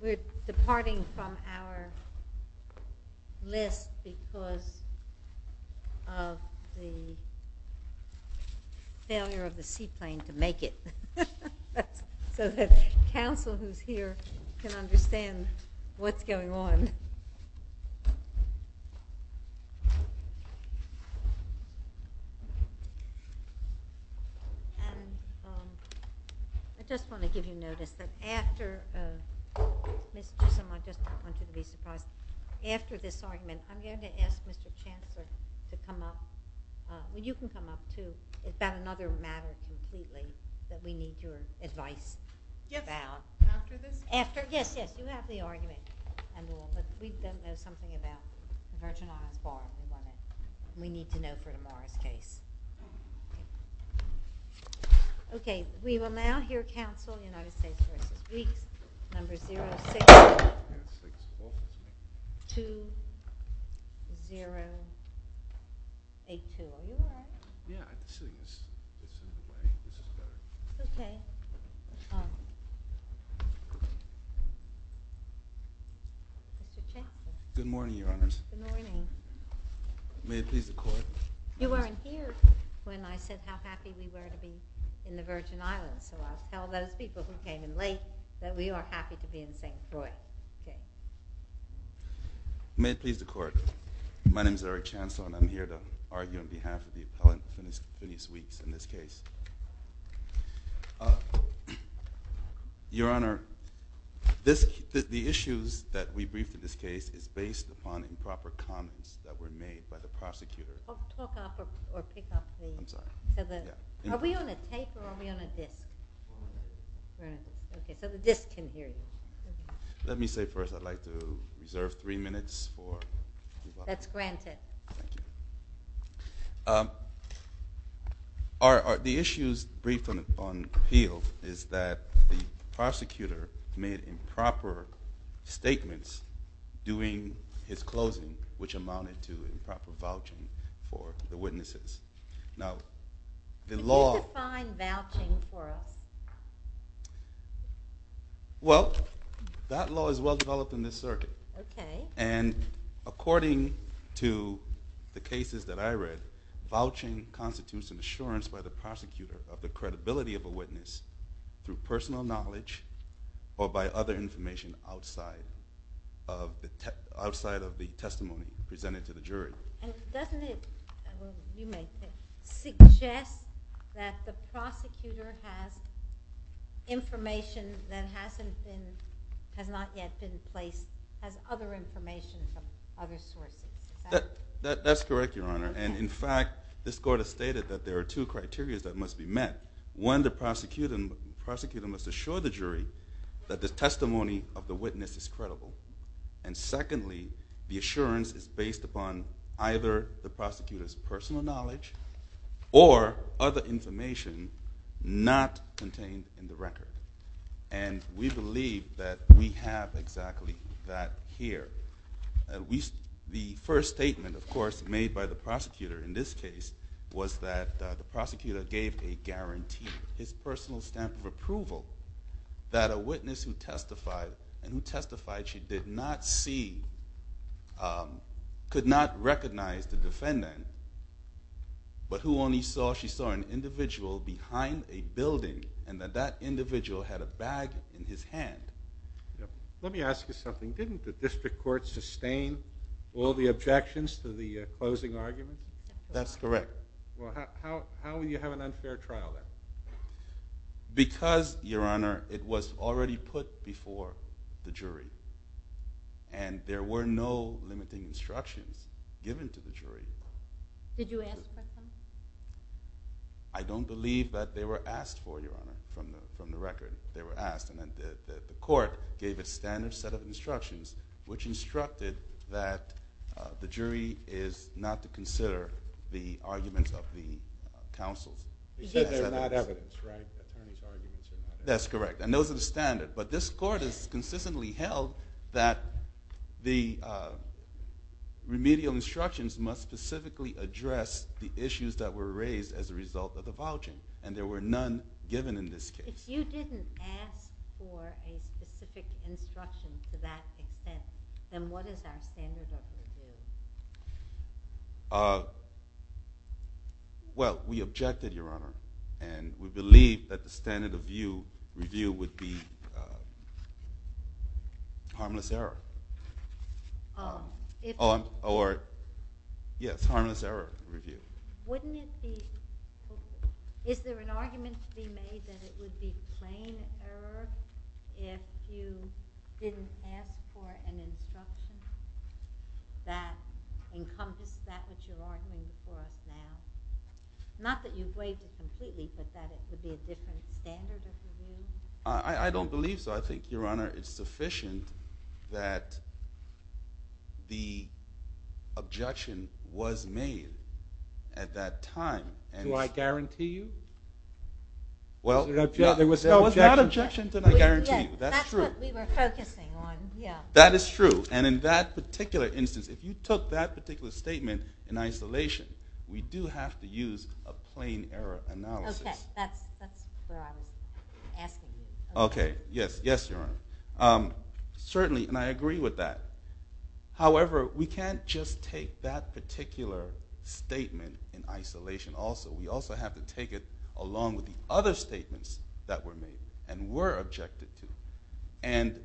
We're departing from our list because of the failure of the seaplane to make it. So that counsel who's here can understand what's going on. I just want to give you notice that after this argument, I'm going to ask Mr. Chancellor to come up. You can come up too. It's about another matter completely that we need your advice about. We need to know for tomorrow's case. Okay, we will now hear counsel United States v. Weekes, number 062082. Good morning, Your Honors. Good morning. May it please the Court. You weren't here when I said how happy we were to be in the Virgin Islands, so I'll tell those people who came in late that we are happy to be in St. Louis. May it please the Court. My name is Eric Chancellor and I'm here to argue on behalf of the appellant, Denise Weekes, in this case. Your Honor, the issues that we briefed in this case is based upon improper comments that were made by the prosecutor. Are we on a tape or are we on a disc? Okay, so the disc can hear you. Let me say first I'd like to reserve three minutes. That's granted. The issues briefed on appeal is that the prosecutor made improper statements during his closing, which amounted to improper vouching for the witnesses. Can you define vouching for us? Well, that law is well developed in this circuit. Okay. And according to the cases that I read, vouching constitutes an assurance by the prosecutor of the credibility of a witness through personal knowledge or by other information outside of the testimony presented to the jury. And doesn't it suggest that the prosecutor has information that has not yet been placed, has other information from other sources? That's correct, Your Honor. And in fact, this Court has stated that there are two criteria that must be met. One, the prosecutor must assure the jury that the testimony of the witness is credible. And secondly, the assurance is based upon either the prosecutor's personal knowledge or other information not contained in the record. And we believe that we have exactly that here. The first statement, of course, made by the prosecutor in this case was that the prosecutor gave a guarantee, his personal stamp of approval, that a witness who testified and who testified she did not see could not recognize the defendant, but who only saw she saw an individual behind a building and that that individual had a bag in his hand. Let me ask you something. Didn't the District Court sustain all the objections to the closing argument? That's correct. Well, how will you have an unfair trial then? Because, Your Honor, it was already put before the jury. And there were no limiting instructions given to the jury. Did you answer them? I don't believe that they were asked for, Your Honor, from the record. The court gave a standard set of instructions which instructed that the jury is not to consider the arguments of the counsel. You said they're not evidence, right? That's correct. And those are the standard. But this court has consistently held that the remedial instructions must specifically address the issues that were raised as a result of the vouching. And there were none given in this case. If you didn't ask for a specific instruction to that extent, then what is our standard of review? Well, we objected, Your Honor, and we believe that the standard of review would be harmless error. Or, yes, harmless error review. Wouldn't it be—is there an argument to be made that it would be plain error if you didn't ask for an instruction that encompassed that which you're arguing for now? Not that you've weighed it completely, but that it would be a different standard of review? I don't believe so. I think, Your Honor, it's sufficient that the objection was made at that time. Do I guarantee you? Well, there was no objection. There was no objection. Did I guarantee you? That's true. That's what we were focusing on. That is true. And in that particular instance, if you took that particular statement in isolation, we do have to use a plain error analysis. Okay. That's what I'm asking you. Okay. Yes. Yes, Your Honor. Certainly, and I agree with that. However, we can't just take that particular statement in isolation also. We also have to take it along with the other statements that were made and were objected to. And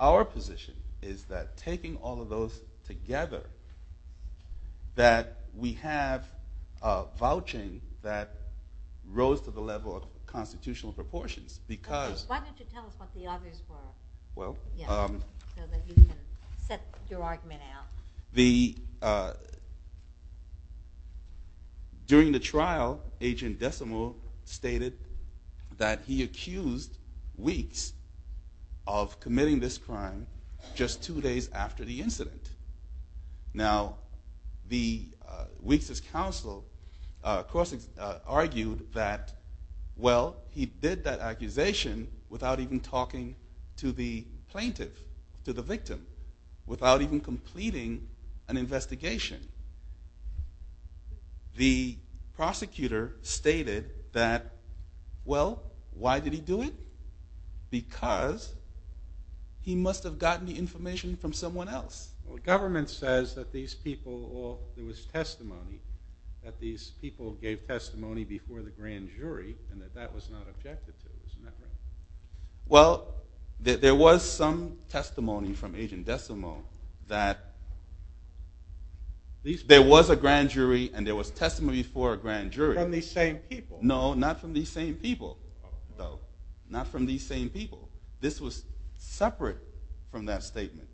our position is that taking all of those together, that we have a vouching that rose to the level of constitutional proportions. Okay. Why don't you tell us what the others were so that you can set your argument out? During the trial, Agent Decimo stated that he accused Weeks of committing this crime just two days after the incident. Now, Weeks' counsel, of course, argued that, well, he did that accusation without even talking to the plaintiff, to the victim, without even completing an investigation. The prosecutor stated that, well, why did he do it? Because he must have gotten the information from someone else. Well, government says that these people, well, there was testimony, that these people gave testimony before the grand jury and that that was not objected to. Isn't that right? Well, there was some testimony from Agent Decimo that there was a grand jury and there was testimony before a grand jury. From these same people. No, not from these same people, though. Not from these same people. This was separate from that statement.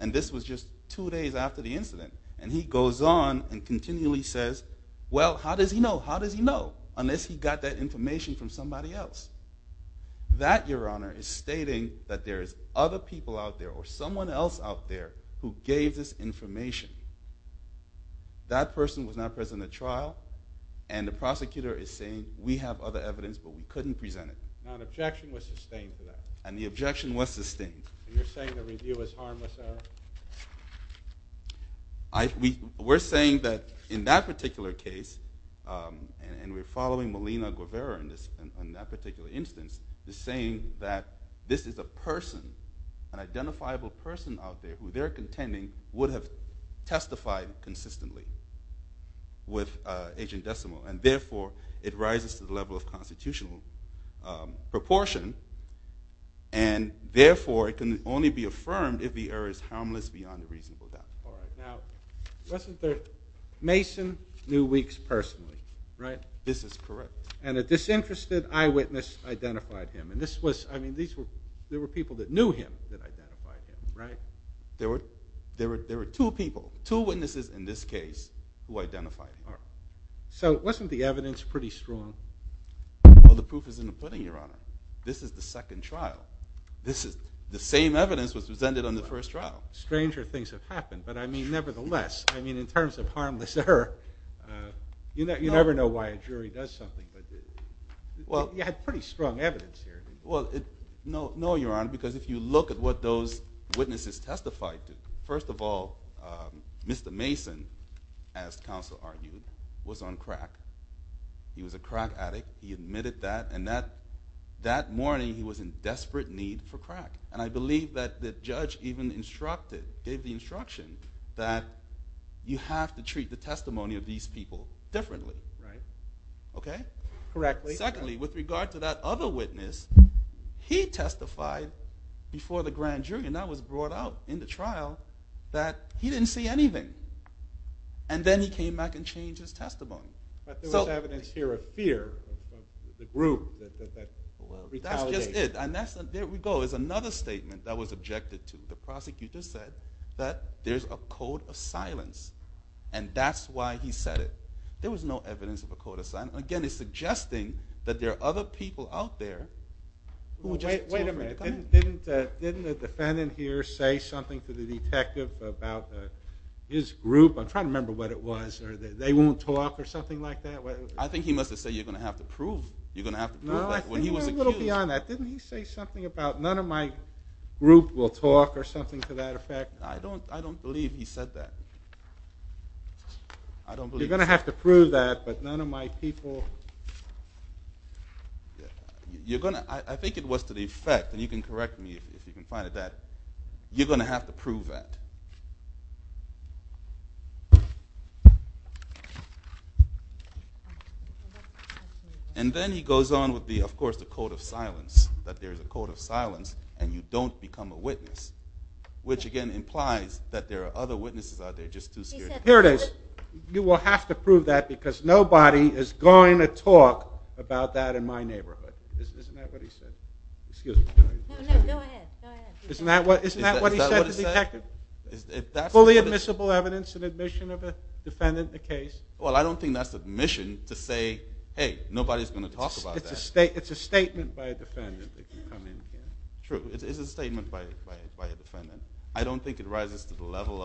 And this was just two days after the incident. And he goes on and continually says, well, how does he know? How does he know unless he got that information from somebody else? That, Your Honor, is stating that there is other people out there or someone else out there who gave this information. That person was not present at trial, and the prosecutor is saying, we have other evidence, but we couldn't present it. Now, an objection was sustained to that. And the objection was sustained. You're saying the review is harmless, though? We're saying that in that particular case, and we're following Molina-Guevara in that particular instance, is saying that this is a person, an identifiable person out there who they're contending would have testified consistently with Agent Decimo. And therefore, it rises to the level of constitutional proportion. And therefore, it can only be affirmed if the error is harmless beyond a reasonable doubt. All right. Now, wasn't there Mason Newweeks personally, right? This is correct. And a disinterested eyewitness identified him. And this was, I mean, there were people that knew him that identified him, right? There were two people, two witnesses in this case, who identified him. So wasn't the evidence pretty strong? Well, the proof is in the pudding, Your Honor. This is the second trial. The same evidence was presented on the first trial. Stranger things have happened. But, I mean, nevertheless, I mean, in terms of harmless error, you never know why a jury does something. But you had pretty strong evidence here. Well, no, Your Honor, because if you look at what those witnesses testified to, first of all, Mr. Mason, as counsel argued, was on crack. He was a crack addict. He admitted that. And that morning, he was in desperate need for crack. And I believe that the judge even instructed, gave the instruction, that you have to treat the testimony of these people differently. Right. Okay? Correctly. Secondly, with regard to that other witness, he testified before the grand jury, and that was brought out in the trial, that he didn't see anything. And then he came back and changed his testimony. But there was evidence here of fear of the group, that retaliation. That's just it. And there we go. There's another statement that was objected to. The prosecutor said that there's a code of silence, and that's why he said it. There was no evidence of a code of silence. And, again, it's suggesting that there are other people out there who just told me to come in. Didn't the defendant here say something to the detective about his group? I'm trying to remember what it was. They won't talk or something like that? I think he must have said, you're going to have to prove that when he was accused. No, I think a little beyond that. Didn't he say something about none of my group will talk or something to that effect? I don't believe he said that. You're going to have to prove that, but none of my people. I think it was to the effect, and you can correct me if you can find it that, you're going to have to prove that. And then he goes on with, of course, the code of silence, that there's a code of silence and you don't become a witness, which, again, implies that there are other witnesses out there just too scared. Here it is. You will have to prove that because nobody is going to talk about that in my neighborhood. Isn't that what he said? Excuse me. No, no, go ahead. Isn't that what he said to the detective? Is that what he said? Fully admissible evidence and admission of a defendant in a case. Well, I don't think that's admission to say, hey, nobody's going to talk about that. It's a statement by a defendant that you come in here. True. It's a statement by a defendant. I don't think it rises to the level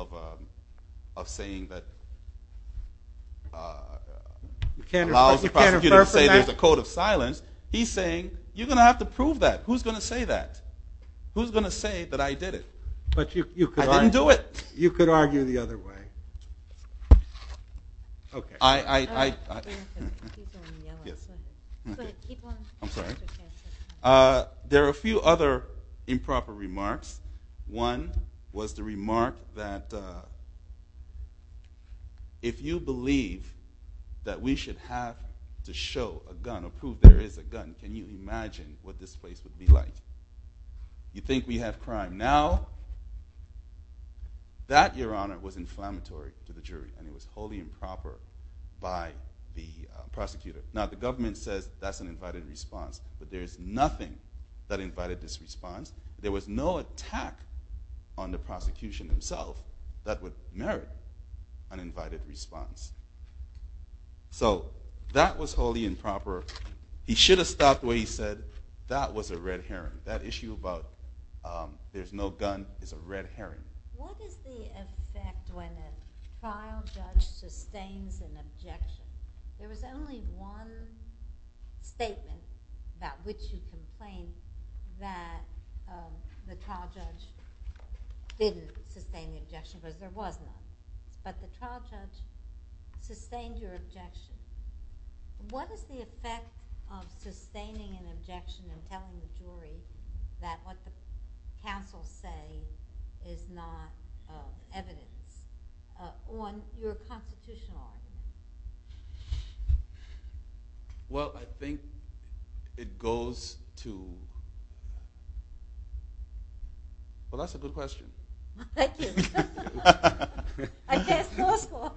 of saying that allows the prosecutor to say there's a code of silence. He's saying, you're going to have to prove that. Who's going to say that? Who's going to say that I did it? I didn't do it. You could argue the other way. There are a few other improper remarks. One was the remark that if you believe that we should have to show a gun or prove there is a gun, can you imagine what this place would be like? You think we have crime now? That, Your Honor, was inflammatory to the jury, and it was wholly improper by the prosecutor. Now, the government says that's an invited response, but there's nothing that invited this response. There was no attack on the prosecution himself that would merit an invited response. So that was wholly improper. He should have stopped where he said that was a red herring. That issue about there's no gun is a red herring. What is the effect when a trial judge sustains an objection? There was only one statement about which you complained, that the trial judge didn't sustain the objection because there was none. But the trial judge sustained your objection. What is the effect of sustaining an objection and telling the jury that what the counsel say is not evidence on your constitutional argument? Well, I think it goes to—well, that's a good question. Thank you. I can't slow score.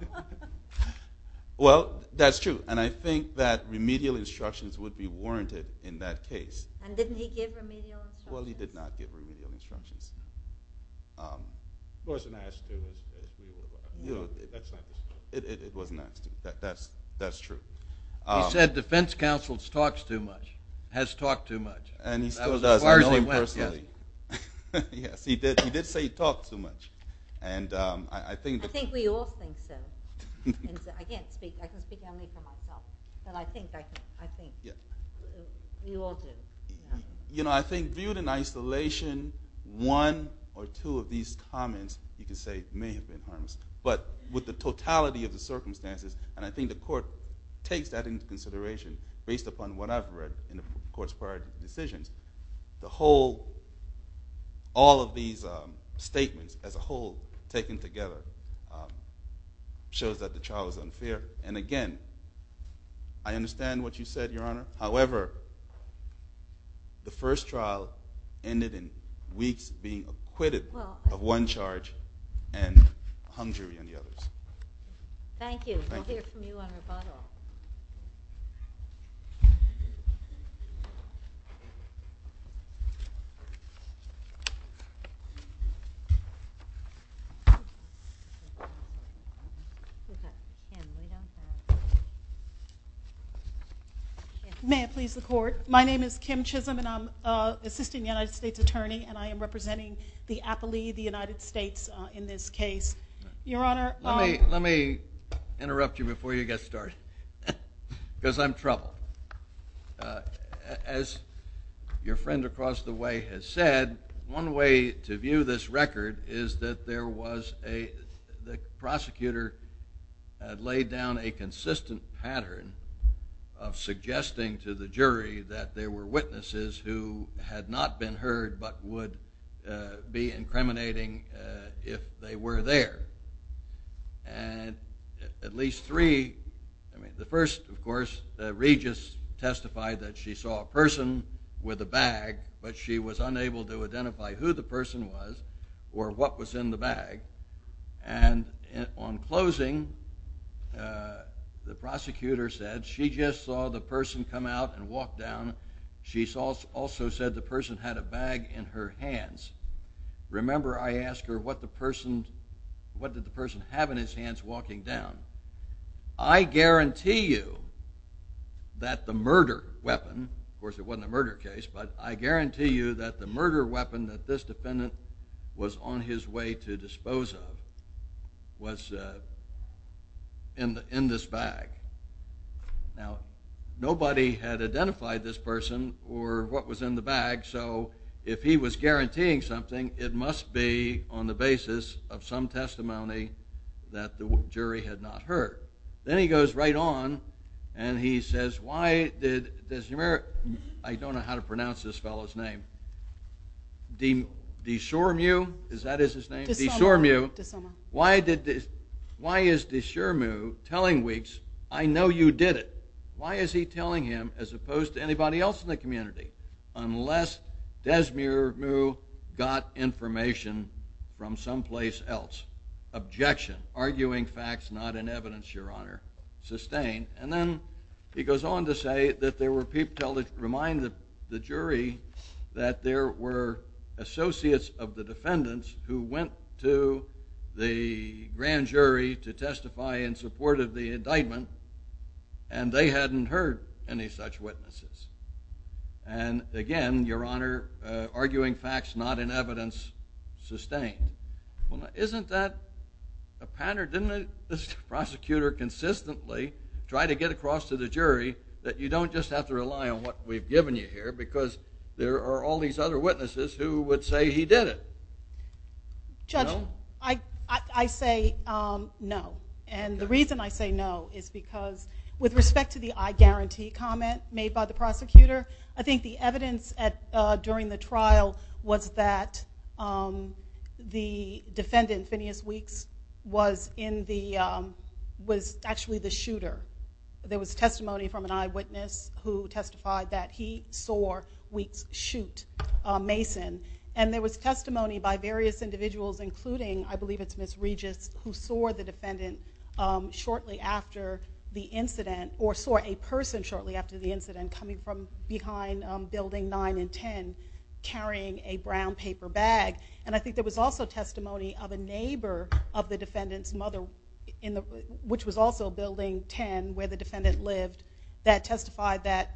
Well, that's true, and I think that remedial instructions would be warranted in that case. And didn't he give remedial instructions? Well, he did not give remedial instructions. It wasn't asked to. It wasn't asked to. That's true. He said defense counsel talks too much, has talked too much. That was as far as he went. Yes, he did say he talked too much. I think we all think so. I can speak only for myself, but I think we all do. You know, I think viewed in isolation, one or two of these comments you can say may have been harmless. But with the totality of the circumstances, and I think the court takes that into consideration based upon what I've read in the court's prior decisions, the whole—all of these statements as a whole taken together shows that the trial is unfair. And again, I understand what you said, Your Honor. However, the first trial ended in weeks being acquitted of one charge and hung jury on the others. Thank you. We'll hear from you on rebuttal. May I please the court? My name is Kim Chisholm, and I'm an assistant United States attorney, and I am representing the appellee, the United States, in this case. Your Honor— Let me interrupt you before you get started because I'm troubled. As your friend across the way has said, one way to view this record is that there was a— the prosecutor had laid down a consistent pattern of suggesting to the jury that there were witnesses who had not been heard but would be incriminating if they were there. And at least three—I mean, the first, of course, Regis testified that she saw a person with a bag, but she was unable to identify who the person was or what was in the bag. And on closing, the prosecutor said she just saw the person come out and walk down. She also said the person had a bag in her hands. Remember, I asked her what the person—what did the person have in his hands walking down. I guarantee you that the murder weapon—of course, it wasn't a murder case, but I guarantee you that the murder weapon that this defendant was on his way to dispose of was in this bag. Now, nobody had identified this person or what was in the bag, so if he was guaranteeing something, it must be on the basis of some testimony that the jury had not heard. Then he goes right on and he says, why did—I don't know how to pronounce this fellow's name. Deshormieu? Is that his name? Deshormieu. Why is Deshormieu telling Weeks, I know you did it? Why is he telling him as opposed to anybody else in the community? Unless Deshormieu got information from someplace else. Objection. Arguing facts not in evidence, Your Honor. Sustained. And then he goes on to say that there were—remind the jury that there were associates of the defendants who went to the grand jury to testify in support of the indictment and they hadn't heard any such witnesses. And again, Your Honor, arguing facts not in evidence, sustained. Isn't that a pattern? Didn't the prosecutor consistently try to get across to the jury that you don't just have to rely on what we've given you here because there are all these other witnesses who would say he did it? Judge, I say no. And the reason I say no is because with respect to the I guarantee comment made by the prosecutor, I think the evidence during the trial was that the defendant, Phineas Weeks, was actually the shooter. There was testimony from an eyewitness who testified that he saw Weeks shoot Mason. And there was testimony by various individuals, including, I believe it's Ms. Regis, who saw the defendant shortly after the incident or saw a person shortly after the incident coming from behind Building 9 and 10 carrying a brown paper bag. And I think there was also testimony of a neighbor of the defendant's mother, which was also Building 10 where the defendant lived, that testified that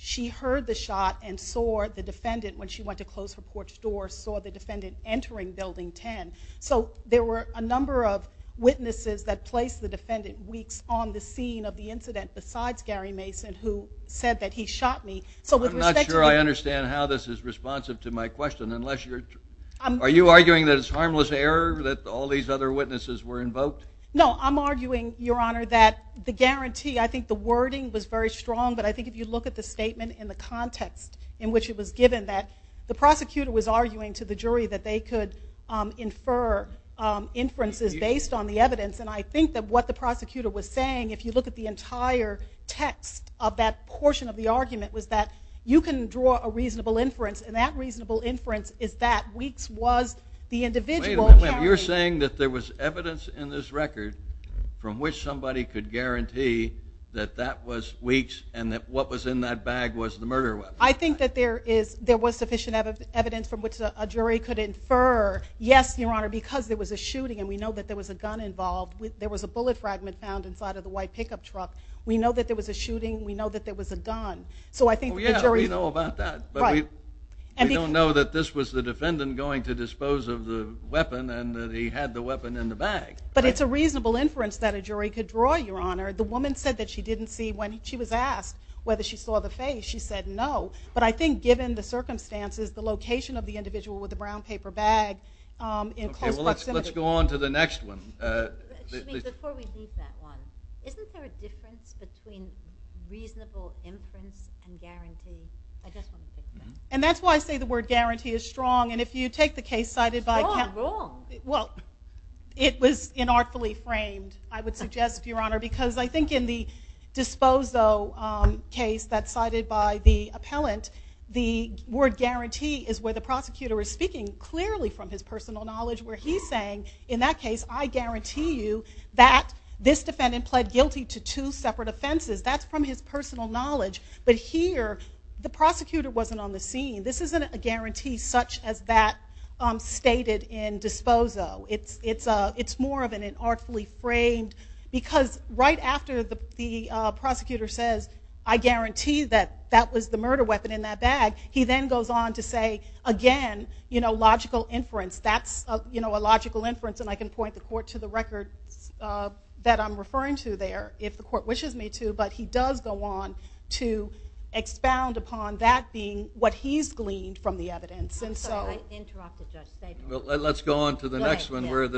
she heard the shot and saw the defendant when she went to close her porch door, saw the defendant entering Building 10. So there were a number of witnesses that placed the defendant, Weeks, on the scene of the incident besides Gary Mason who said that he shot me. I'm not sure I understand how this is responsive to my question. Are you arguing that it's harmless error that all these other witnesses were invoked? No, I'm arguing, Your Honor, that the guarantee, I think the wording was very strong, but I think if you look at the statement and the context in which it was given that the prosecutor was arguing to the jury that they could infer inferences based on the evidence. And I think that what the prosecutor was saying, if you look at the entire text of that portion of the argument, was that you can draw a reasonable inference, and that reasonable inference is that Weeks was the individual carrying. Wait a minute. You're saying that there was evidence in this record from which somebody could guarantee that that was Weeks and that what was in that bag was the murder weapon. I think that there was sufficient evidence from which a jury could infer, yes, Your Honor, because there was a shooting and we know that there was a gun involved. There was a bullet fragment found inside of the white pickup truck. We know that there was a shooting. We know that there was a gun. Yeah, we know about that. We don't know that this was the defendant going to dispose of the weapon and that he had the weapon in the bag. But it's a reasonable inference that a jury could draw, Your Honor. The woman said that she didn't see when she was asked whether she saw the face. She said no, but I think given the circumstances, the location of the individual with the brown paper bag in close proximity. Let's go on to the next one. Before we leave that one, isn't there a difference between reasonable inference and guarantee? I just want to say that. And that's why I say the word guarantee is strong. And if you take the case cited by... Strong, wrong. Well, it was inartfully framed, I would suggest, Your Honor, because I think in the Disposo case that's cited by the appellant, the word guarantee is where the prosecutor is speaking clearly from his personal knowledge where he's saying, in that case, I guarantee you that this defendant pled guilty to two separate offenses. That's from his personal knowledge. But here, the prosecutor wasn't on the scene. This isn't a guarantee such as that stated in Disposo. It's more of an inartfully framed because right after the prosecutor says, I guarantee that that was the murder weapon in that bag, he then goes on to say, again, logical inference. That's a logical inference. And I can point the court to the records that I'm referring to there if the court wishes me to, but he does go on to expound upon that being what he's gleaned from the evidence. I'm sorry, I interrupted Judge Stabenow. Let's go on to the next one where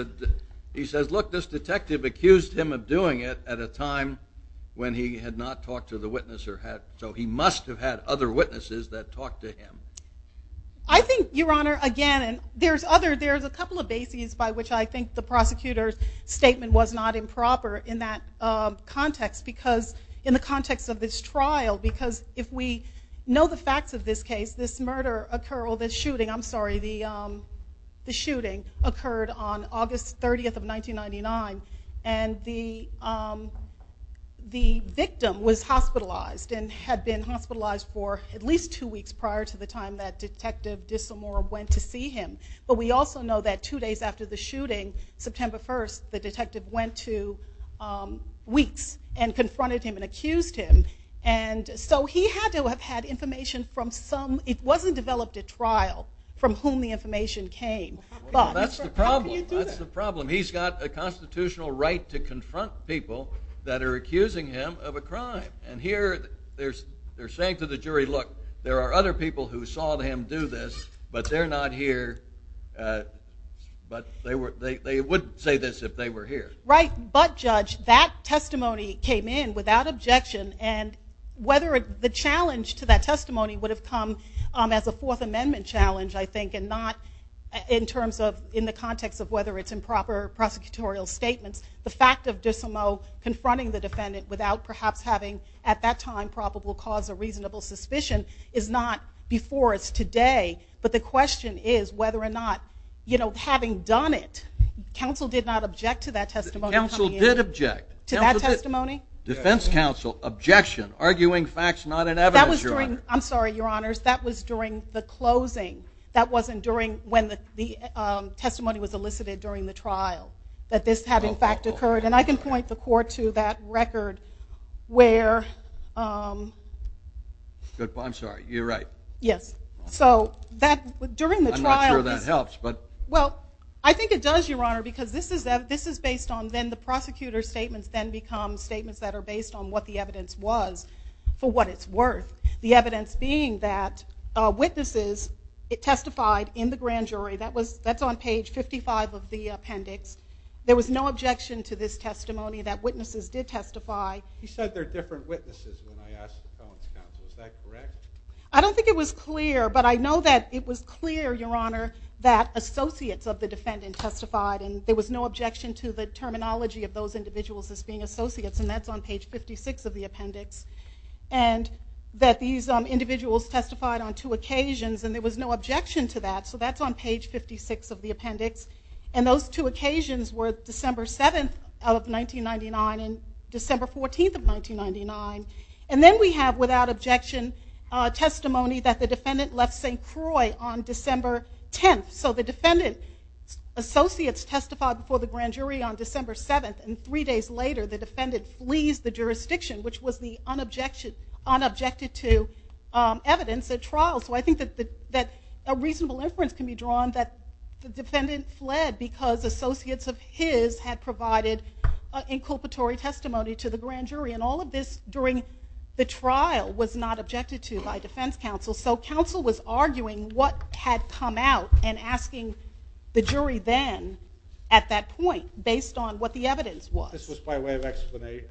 he says, look, this detective accused him of doing it at a time when he had not talked to the witness. So he must have had other witnesses that talked to him. I think, Your Honor, again, there's a couple of bases by which I think the prosecutor's statement was not improper in that context, because in the context of this trial, because if we know the facts of this case, this murder occurred, or this shooting, I'm sorry, the shooting occurred on August 30th of 1999, and the victim was hospitalized and had been hospitalized for at least two weeks prior to the time that Detective Disselmore went to see him. But we also know that two days after the shooting, September 1st, the detective went to Weeks and confronted him and accused him. And so he had to have had information from some, it wasn't developed at trial, from whom the information came. That's the problem. How can you do that? That's the problem. He's got a constitutional right to confront people that are accusing him of a crime. And here they're saying to the jury, look, there are other people who saw him do this, but they're not here, but they wouldn't say this if they were here. Right. But, Judge, that testimony came in without objection, and whether the challenge to that testimony would have come as a Fourth Amendment challenge, I think, and not in terms of, in the context of whether it's improper prosecutorial statements. The fact of Disselmore confronting the defendant without perhaps having, at that time, probable cause or reasonable suspicion is not before us today, but the question is whether or not, you know, having done it, counsel did not object to that testimony coming in. Counsel did object. To that testimony? Defense counsel objection, arguing facts, not an evidence, Your Honor. I'm sorry, Your Honors. That was during the closing. That wasn't during when the testimony was elicited during the trial, that this had, in fact, occurred. And I can point the court to that record where. I'm sorry. You're right. Yes. So during the trial. I'm not sure that helps, but. Well, I think it does, Your Honor, because this is based on then the prosecutor's statements then become statements that are based on what the evidence was for what it's worth. The evidence being that witnesses testified in the grand jury. That's on page 55 of the appendix. There was no objection to this testimony, that witnesses did testify. You said they're different witnesses when I asked the felon's counsel. Is that correct? I don't think it was clear, but I know that it was clear, Your Honor, that associates of the defendant testified, and there was no objection to the terminology of those individuals as being associates, and that's on page 56 of the appendix. And that these individuals testified on two occasions, and there was no objection to that, so that's on page 56 of the appendix. And those two occasions were December 7th of 1999 and December 14th of 1999. And then we have, without objection, testimony that the defendant left St. Croix on December 10th. So the defendant associates testified before the grand jury on December 7th, and three days later the defendant flees the jurisdiction, which was the unobjected to evidence at trial. So I think that a reasonable inference can be drawn that the defendant fled during the trial, was not objected to by defense counsel. So counsel was arguing what had come out and asking the jury then, at that point, based on what the evidence was. This was by way of explanation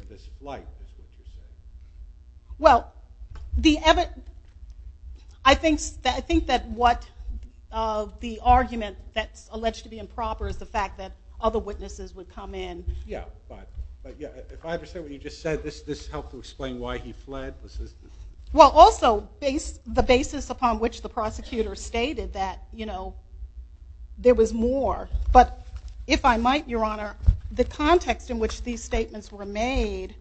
of this flight. Well, I think that what the argument that's alleged to be improper is the fact that other witnesses would come in. Yeah, but if I understand what you just said, this helped to explain why he fled? Well, also, the basis upon which the prosecutor stated that, you know, there was more. But if I might, Your Honor, the context in which these statements were made,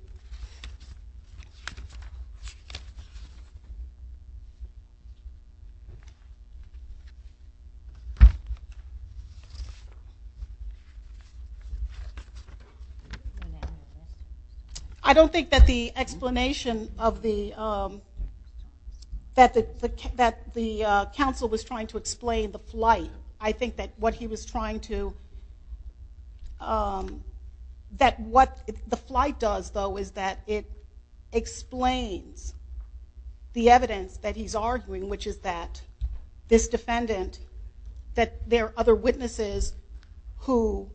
I don't think that the explanation that the counsel was trying to explain the flight. I think that what he was trying to, that what the flight does, though, is that it explains the evidence that he's arguing, which is that this defendant, that there are other witnesses who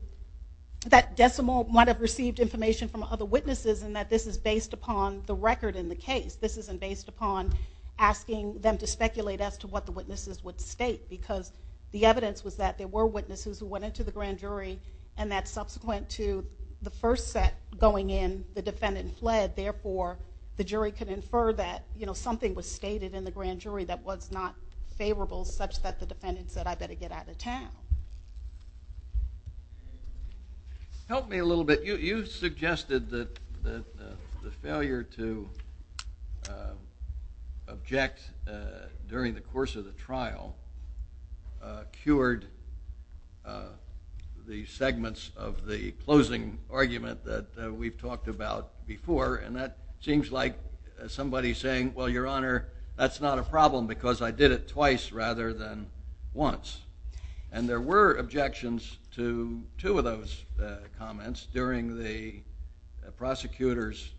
that decimal might have received information from other witnesses, and that this is based upon the record in the case. This isn't based upon asking them to speculate as to what the witnesses would state, because the evidence was that there were witnesses who went into the grand jury, and that subsequent to the first set going in, the defendant fled. Therefore, the jury could infer that, you know, something was stated in the grand jury that was not favorable, such that the defendant said, I better get out of town. Help me a little bit. You suggested that the failure to object during the course of the trial cured the segments of the closing argument that we've talked about before, and that seems like somebody saying, well, Your Honor, that's not a problem because I did it twice rather than once. And there were objections to two of those comments during the prosecutor's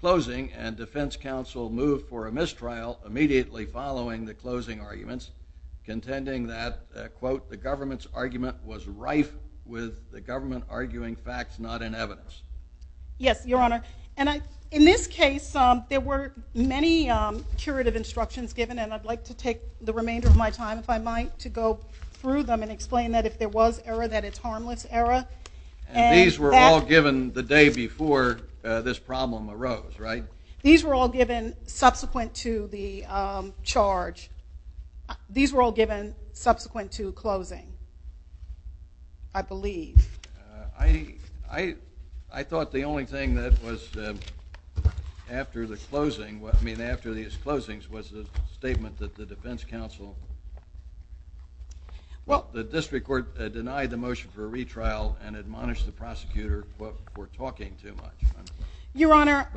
closing, and defense counsel moved for a mistrial immediately following the closing arguments, contending that, quote, the government's argument was rife with the government arguing facts not in evidence. Yes, Your Honor. And in this case, there were many curative instructions given, and I'd like to take the remainder of my time, if I might, to go through them and explain that if there was error, that it's harmless error. And these were all given the day before this problem arose, right? These were all given subsequent to the charge. These were all given subsequent to closing, I believe. I thought the only thing that was after the closing, I mean, after these closings, was the statement that the defense counsel, well, the district court denied the motion for a retrial and admonished the prosecutor, quote, for talking too much. Your Honor,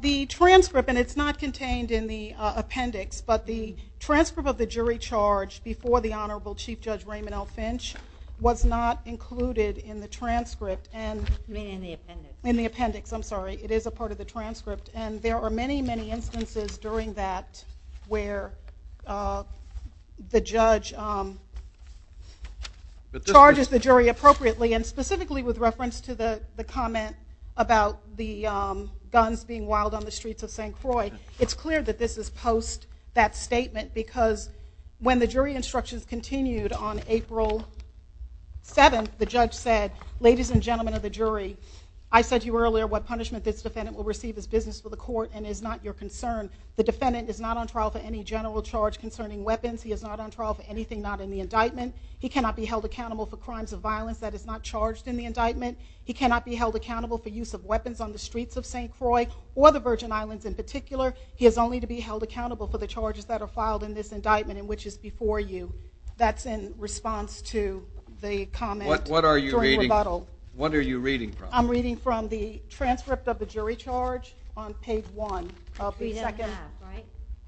the transcript, and it's not contained in the appendix, but the transcript of the jury charge before the Honorable Chief Judge Raymond L. Finch was not included in the transcript. In the appendix. In the appendix, I'm sorry. It is a part of the transcript. And there are many, many instances during that where the judge charges the jury appropriately, and specifically with reference to the comment about the guns being wild on the streets of St. Croix, it's clear that this is post that statement, because when the jury instructions continued on April 7th, the judge said, ladies and gentlemen of the jury, I said to you earlier what punishment this defendant will receive is business for the court and is not your concern. The defendant is not on trial for any general charge concerning weapons. He is not on trial for anything not in the indictment. He cannot be held accountable for crimes of violence that is not charged in the indictment. He cannot be held accountable for use of weapons on the streets of St. Croix or the Virgin Islands in particular. He is only to be held accountable for the charges that are filed in this indictment and which is before you. That's in response to the comment. What are you reading? During rebuttal. I'm reading from the transcript of the jury charge on page one of the second. We didn't have, right?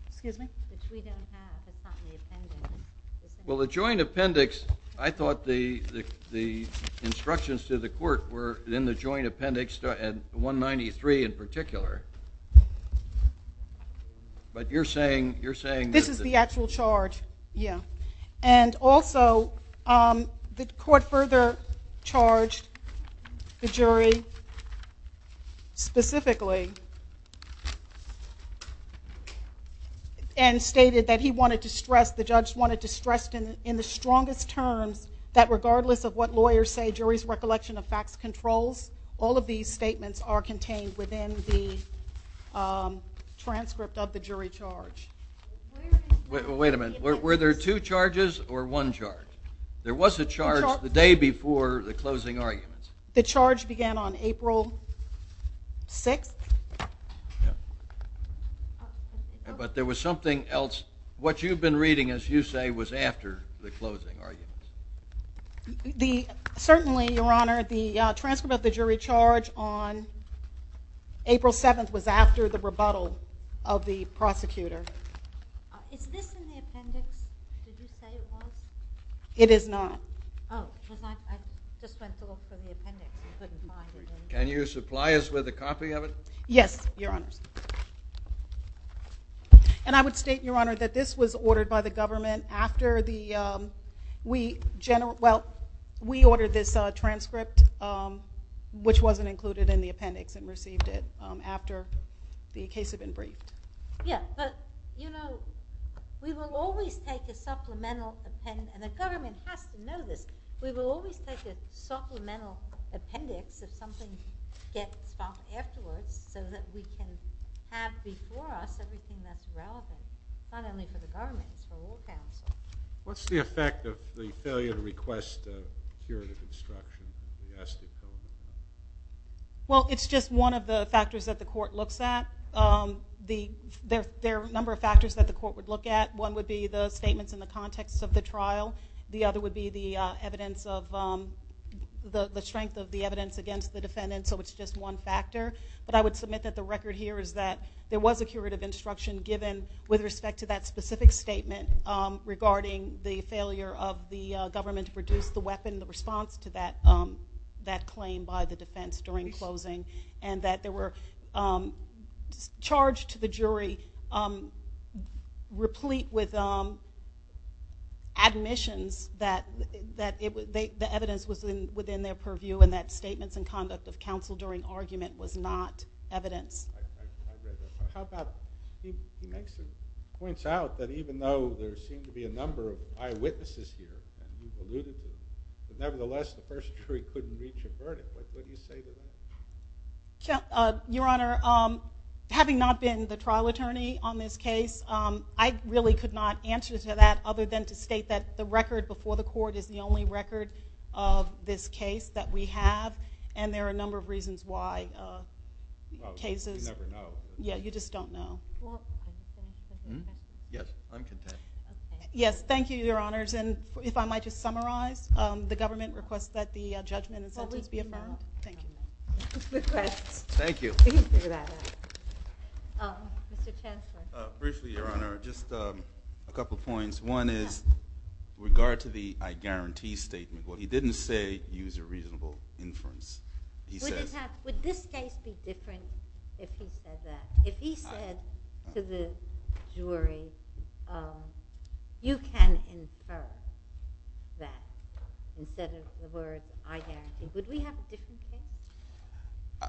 Excuse me? Which we didn't have. It's not in the appendix. Well, the joint appendix, I thought the instructions to the court were in the joint appendix at 193 in particular. But you're saying, you're saying. This is the actual charge. Yeah. And also the court further charged the jury specifically and stated that he wanted to stress, the judge wanted to stress in the strongest terms that regardless of what lawyers say, jury's recollection of facts controls, all of these statements are contained within the transcript of the jury charge. Wait a minute. Were there two charges or one charge? There was a charge the day before the closing arguments. The charge began on April 6th. Yeah. But there was something else. What you've been reading, as you say, was after the closing arguments. Certainly, Your Honor, the transcript of the jury charge on April 7th was after the rebuttal of the prosecutor. Is this in the appendix? Did you say it was? It is not. Oh. Because I just went to look for the appendix and couldn't find it. Can you supply us with a copy of it? Yes, Your Honors. And I would state, Your Honor, that this was ordered by the government after the, we ordered this transcript, which wasn't included in the appendix and received it after the case had been briefed. Yeah. But, you know, we will always take a supplemental appendix, and the government has to know this, we will always take a supplemental appendix if something gets stopped afterwards so that we can have before us everything that's relevant, not only for the government, but for all counsel. What's the effect of the failure to request a curative instruction from the U.S.? Well, it's just one of the factors that the court looks at. There are a number of factors that the court would look at. One would be the statements in the context of the trial. The other would be the evidence of, the strength of the evidence against the defendant, so it's just one factor. But I would submit that the record here is that there was a curative instruction given with respect to that specific statement regarding the failure of the government to produce the weapon, the response to that claim by the defense during closing, and that there were charge to the jury replete with admissions that the evidence was within their purview and that statements and conduct of counsel during argument was not evidence. I agree with that. How about, he actually points out that even though there seemed to be a number of eyewitnesses here and he's alluded to, nevertheless the first jury couldn't reach a verdict. What do you say to that? Your Honor, having not been the trial attorney on this case, I really could not answer to that other than to state that the record before the court is the only record of this case that we have and there are a number of reasons why cases, yeah, you just don't know. Yes, I'm content. Yes, thank you, Your Honors. And if I might just summarize, the government requests that the judgment and sentence be affirmed. Thank you. Good questions. Thank you. Mr. Chancellor. Briefly, Your Honor, just a couple of points. One is regard to the, I guarantee statement, what he didn't say, use a reasonable inference. He says, would this case be different if he said that, if he said to the jury, you can infer that. Instead of the words, I guarantee. Would we have a different case?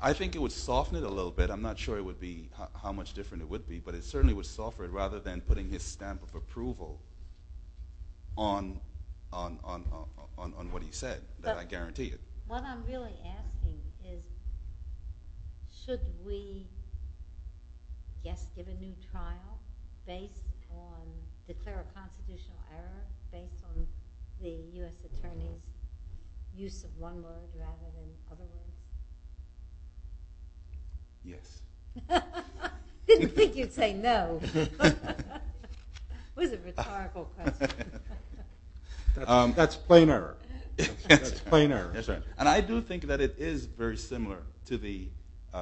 I think it would soften it a little bit. I'm not sure it would be, how much different it would be, but it certainly would soften it rather than putting his stamp of approval on, on, on, on what he said, that I guarantee it. What I'm really asking is, should we, yes, give a new trial based on, is there a constitutional error based on the U.S. attorney's use of one word rather than other words? Yes. Didn't think you'd say no. It was a rhetorical question. That's plain error. That's plain error. And I do think that it is very similar to the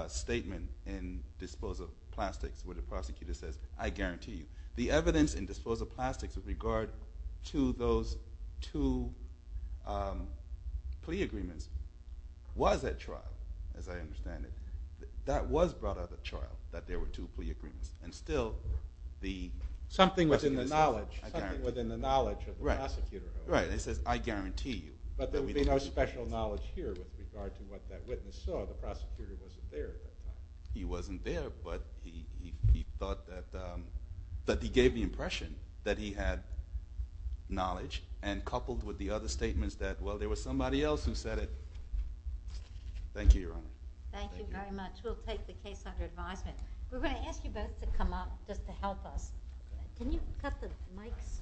statement in disposal plastics, where the prosecutor says, I guarantee you. The evidence in disposal plastics with regard to those two plea agreements was at trial, as I understand it. That was brought up at trial, that there were two plea agreements. And still, the, Something within the knowledge, something within the knowledge of the prosecutor. Right. And he says, I guarantee you. But there would be no special knowledge here with regard to what that witness saw. The prosecutor wasn't there at that time. He wasn't there, but he thought that, that he gave the impression that he had knowledge, and coupled with the other statements that, well, there was somebody else who said it. Thank you, Your Honor. Thank you very much. We'll take the case under advisement. We're going to ask you both to come up just to help us. Can you cut the mics?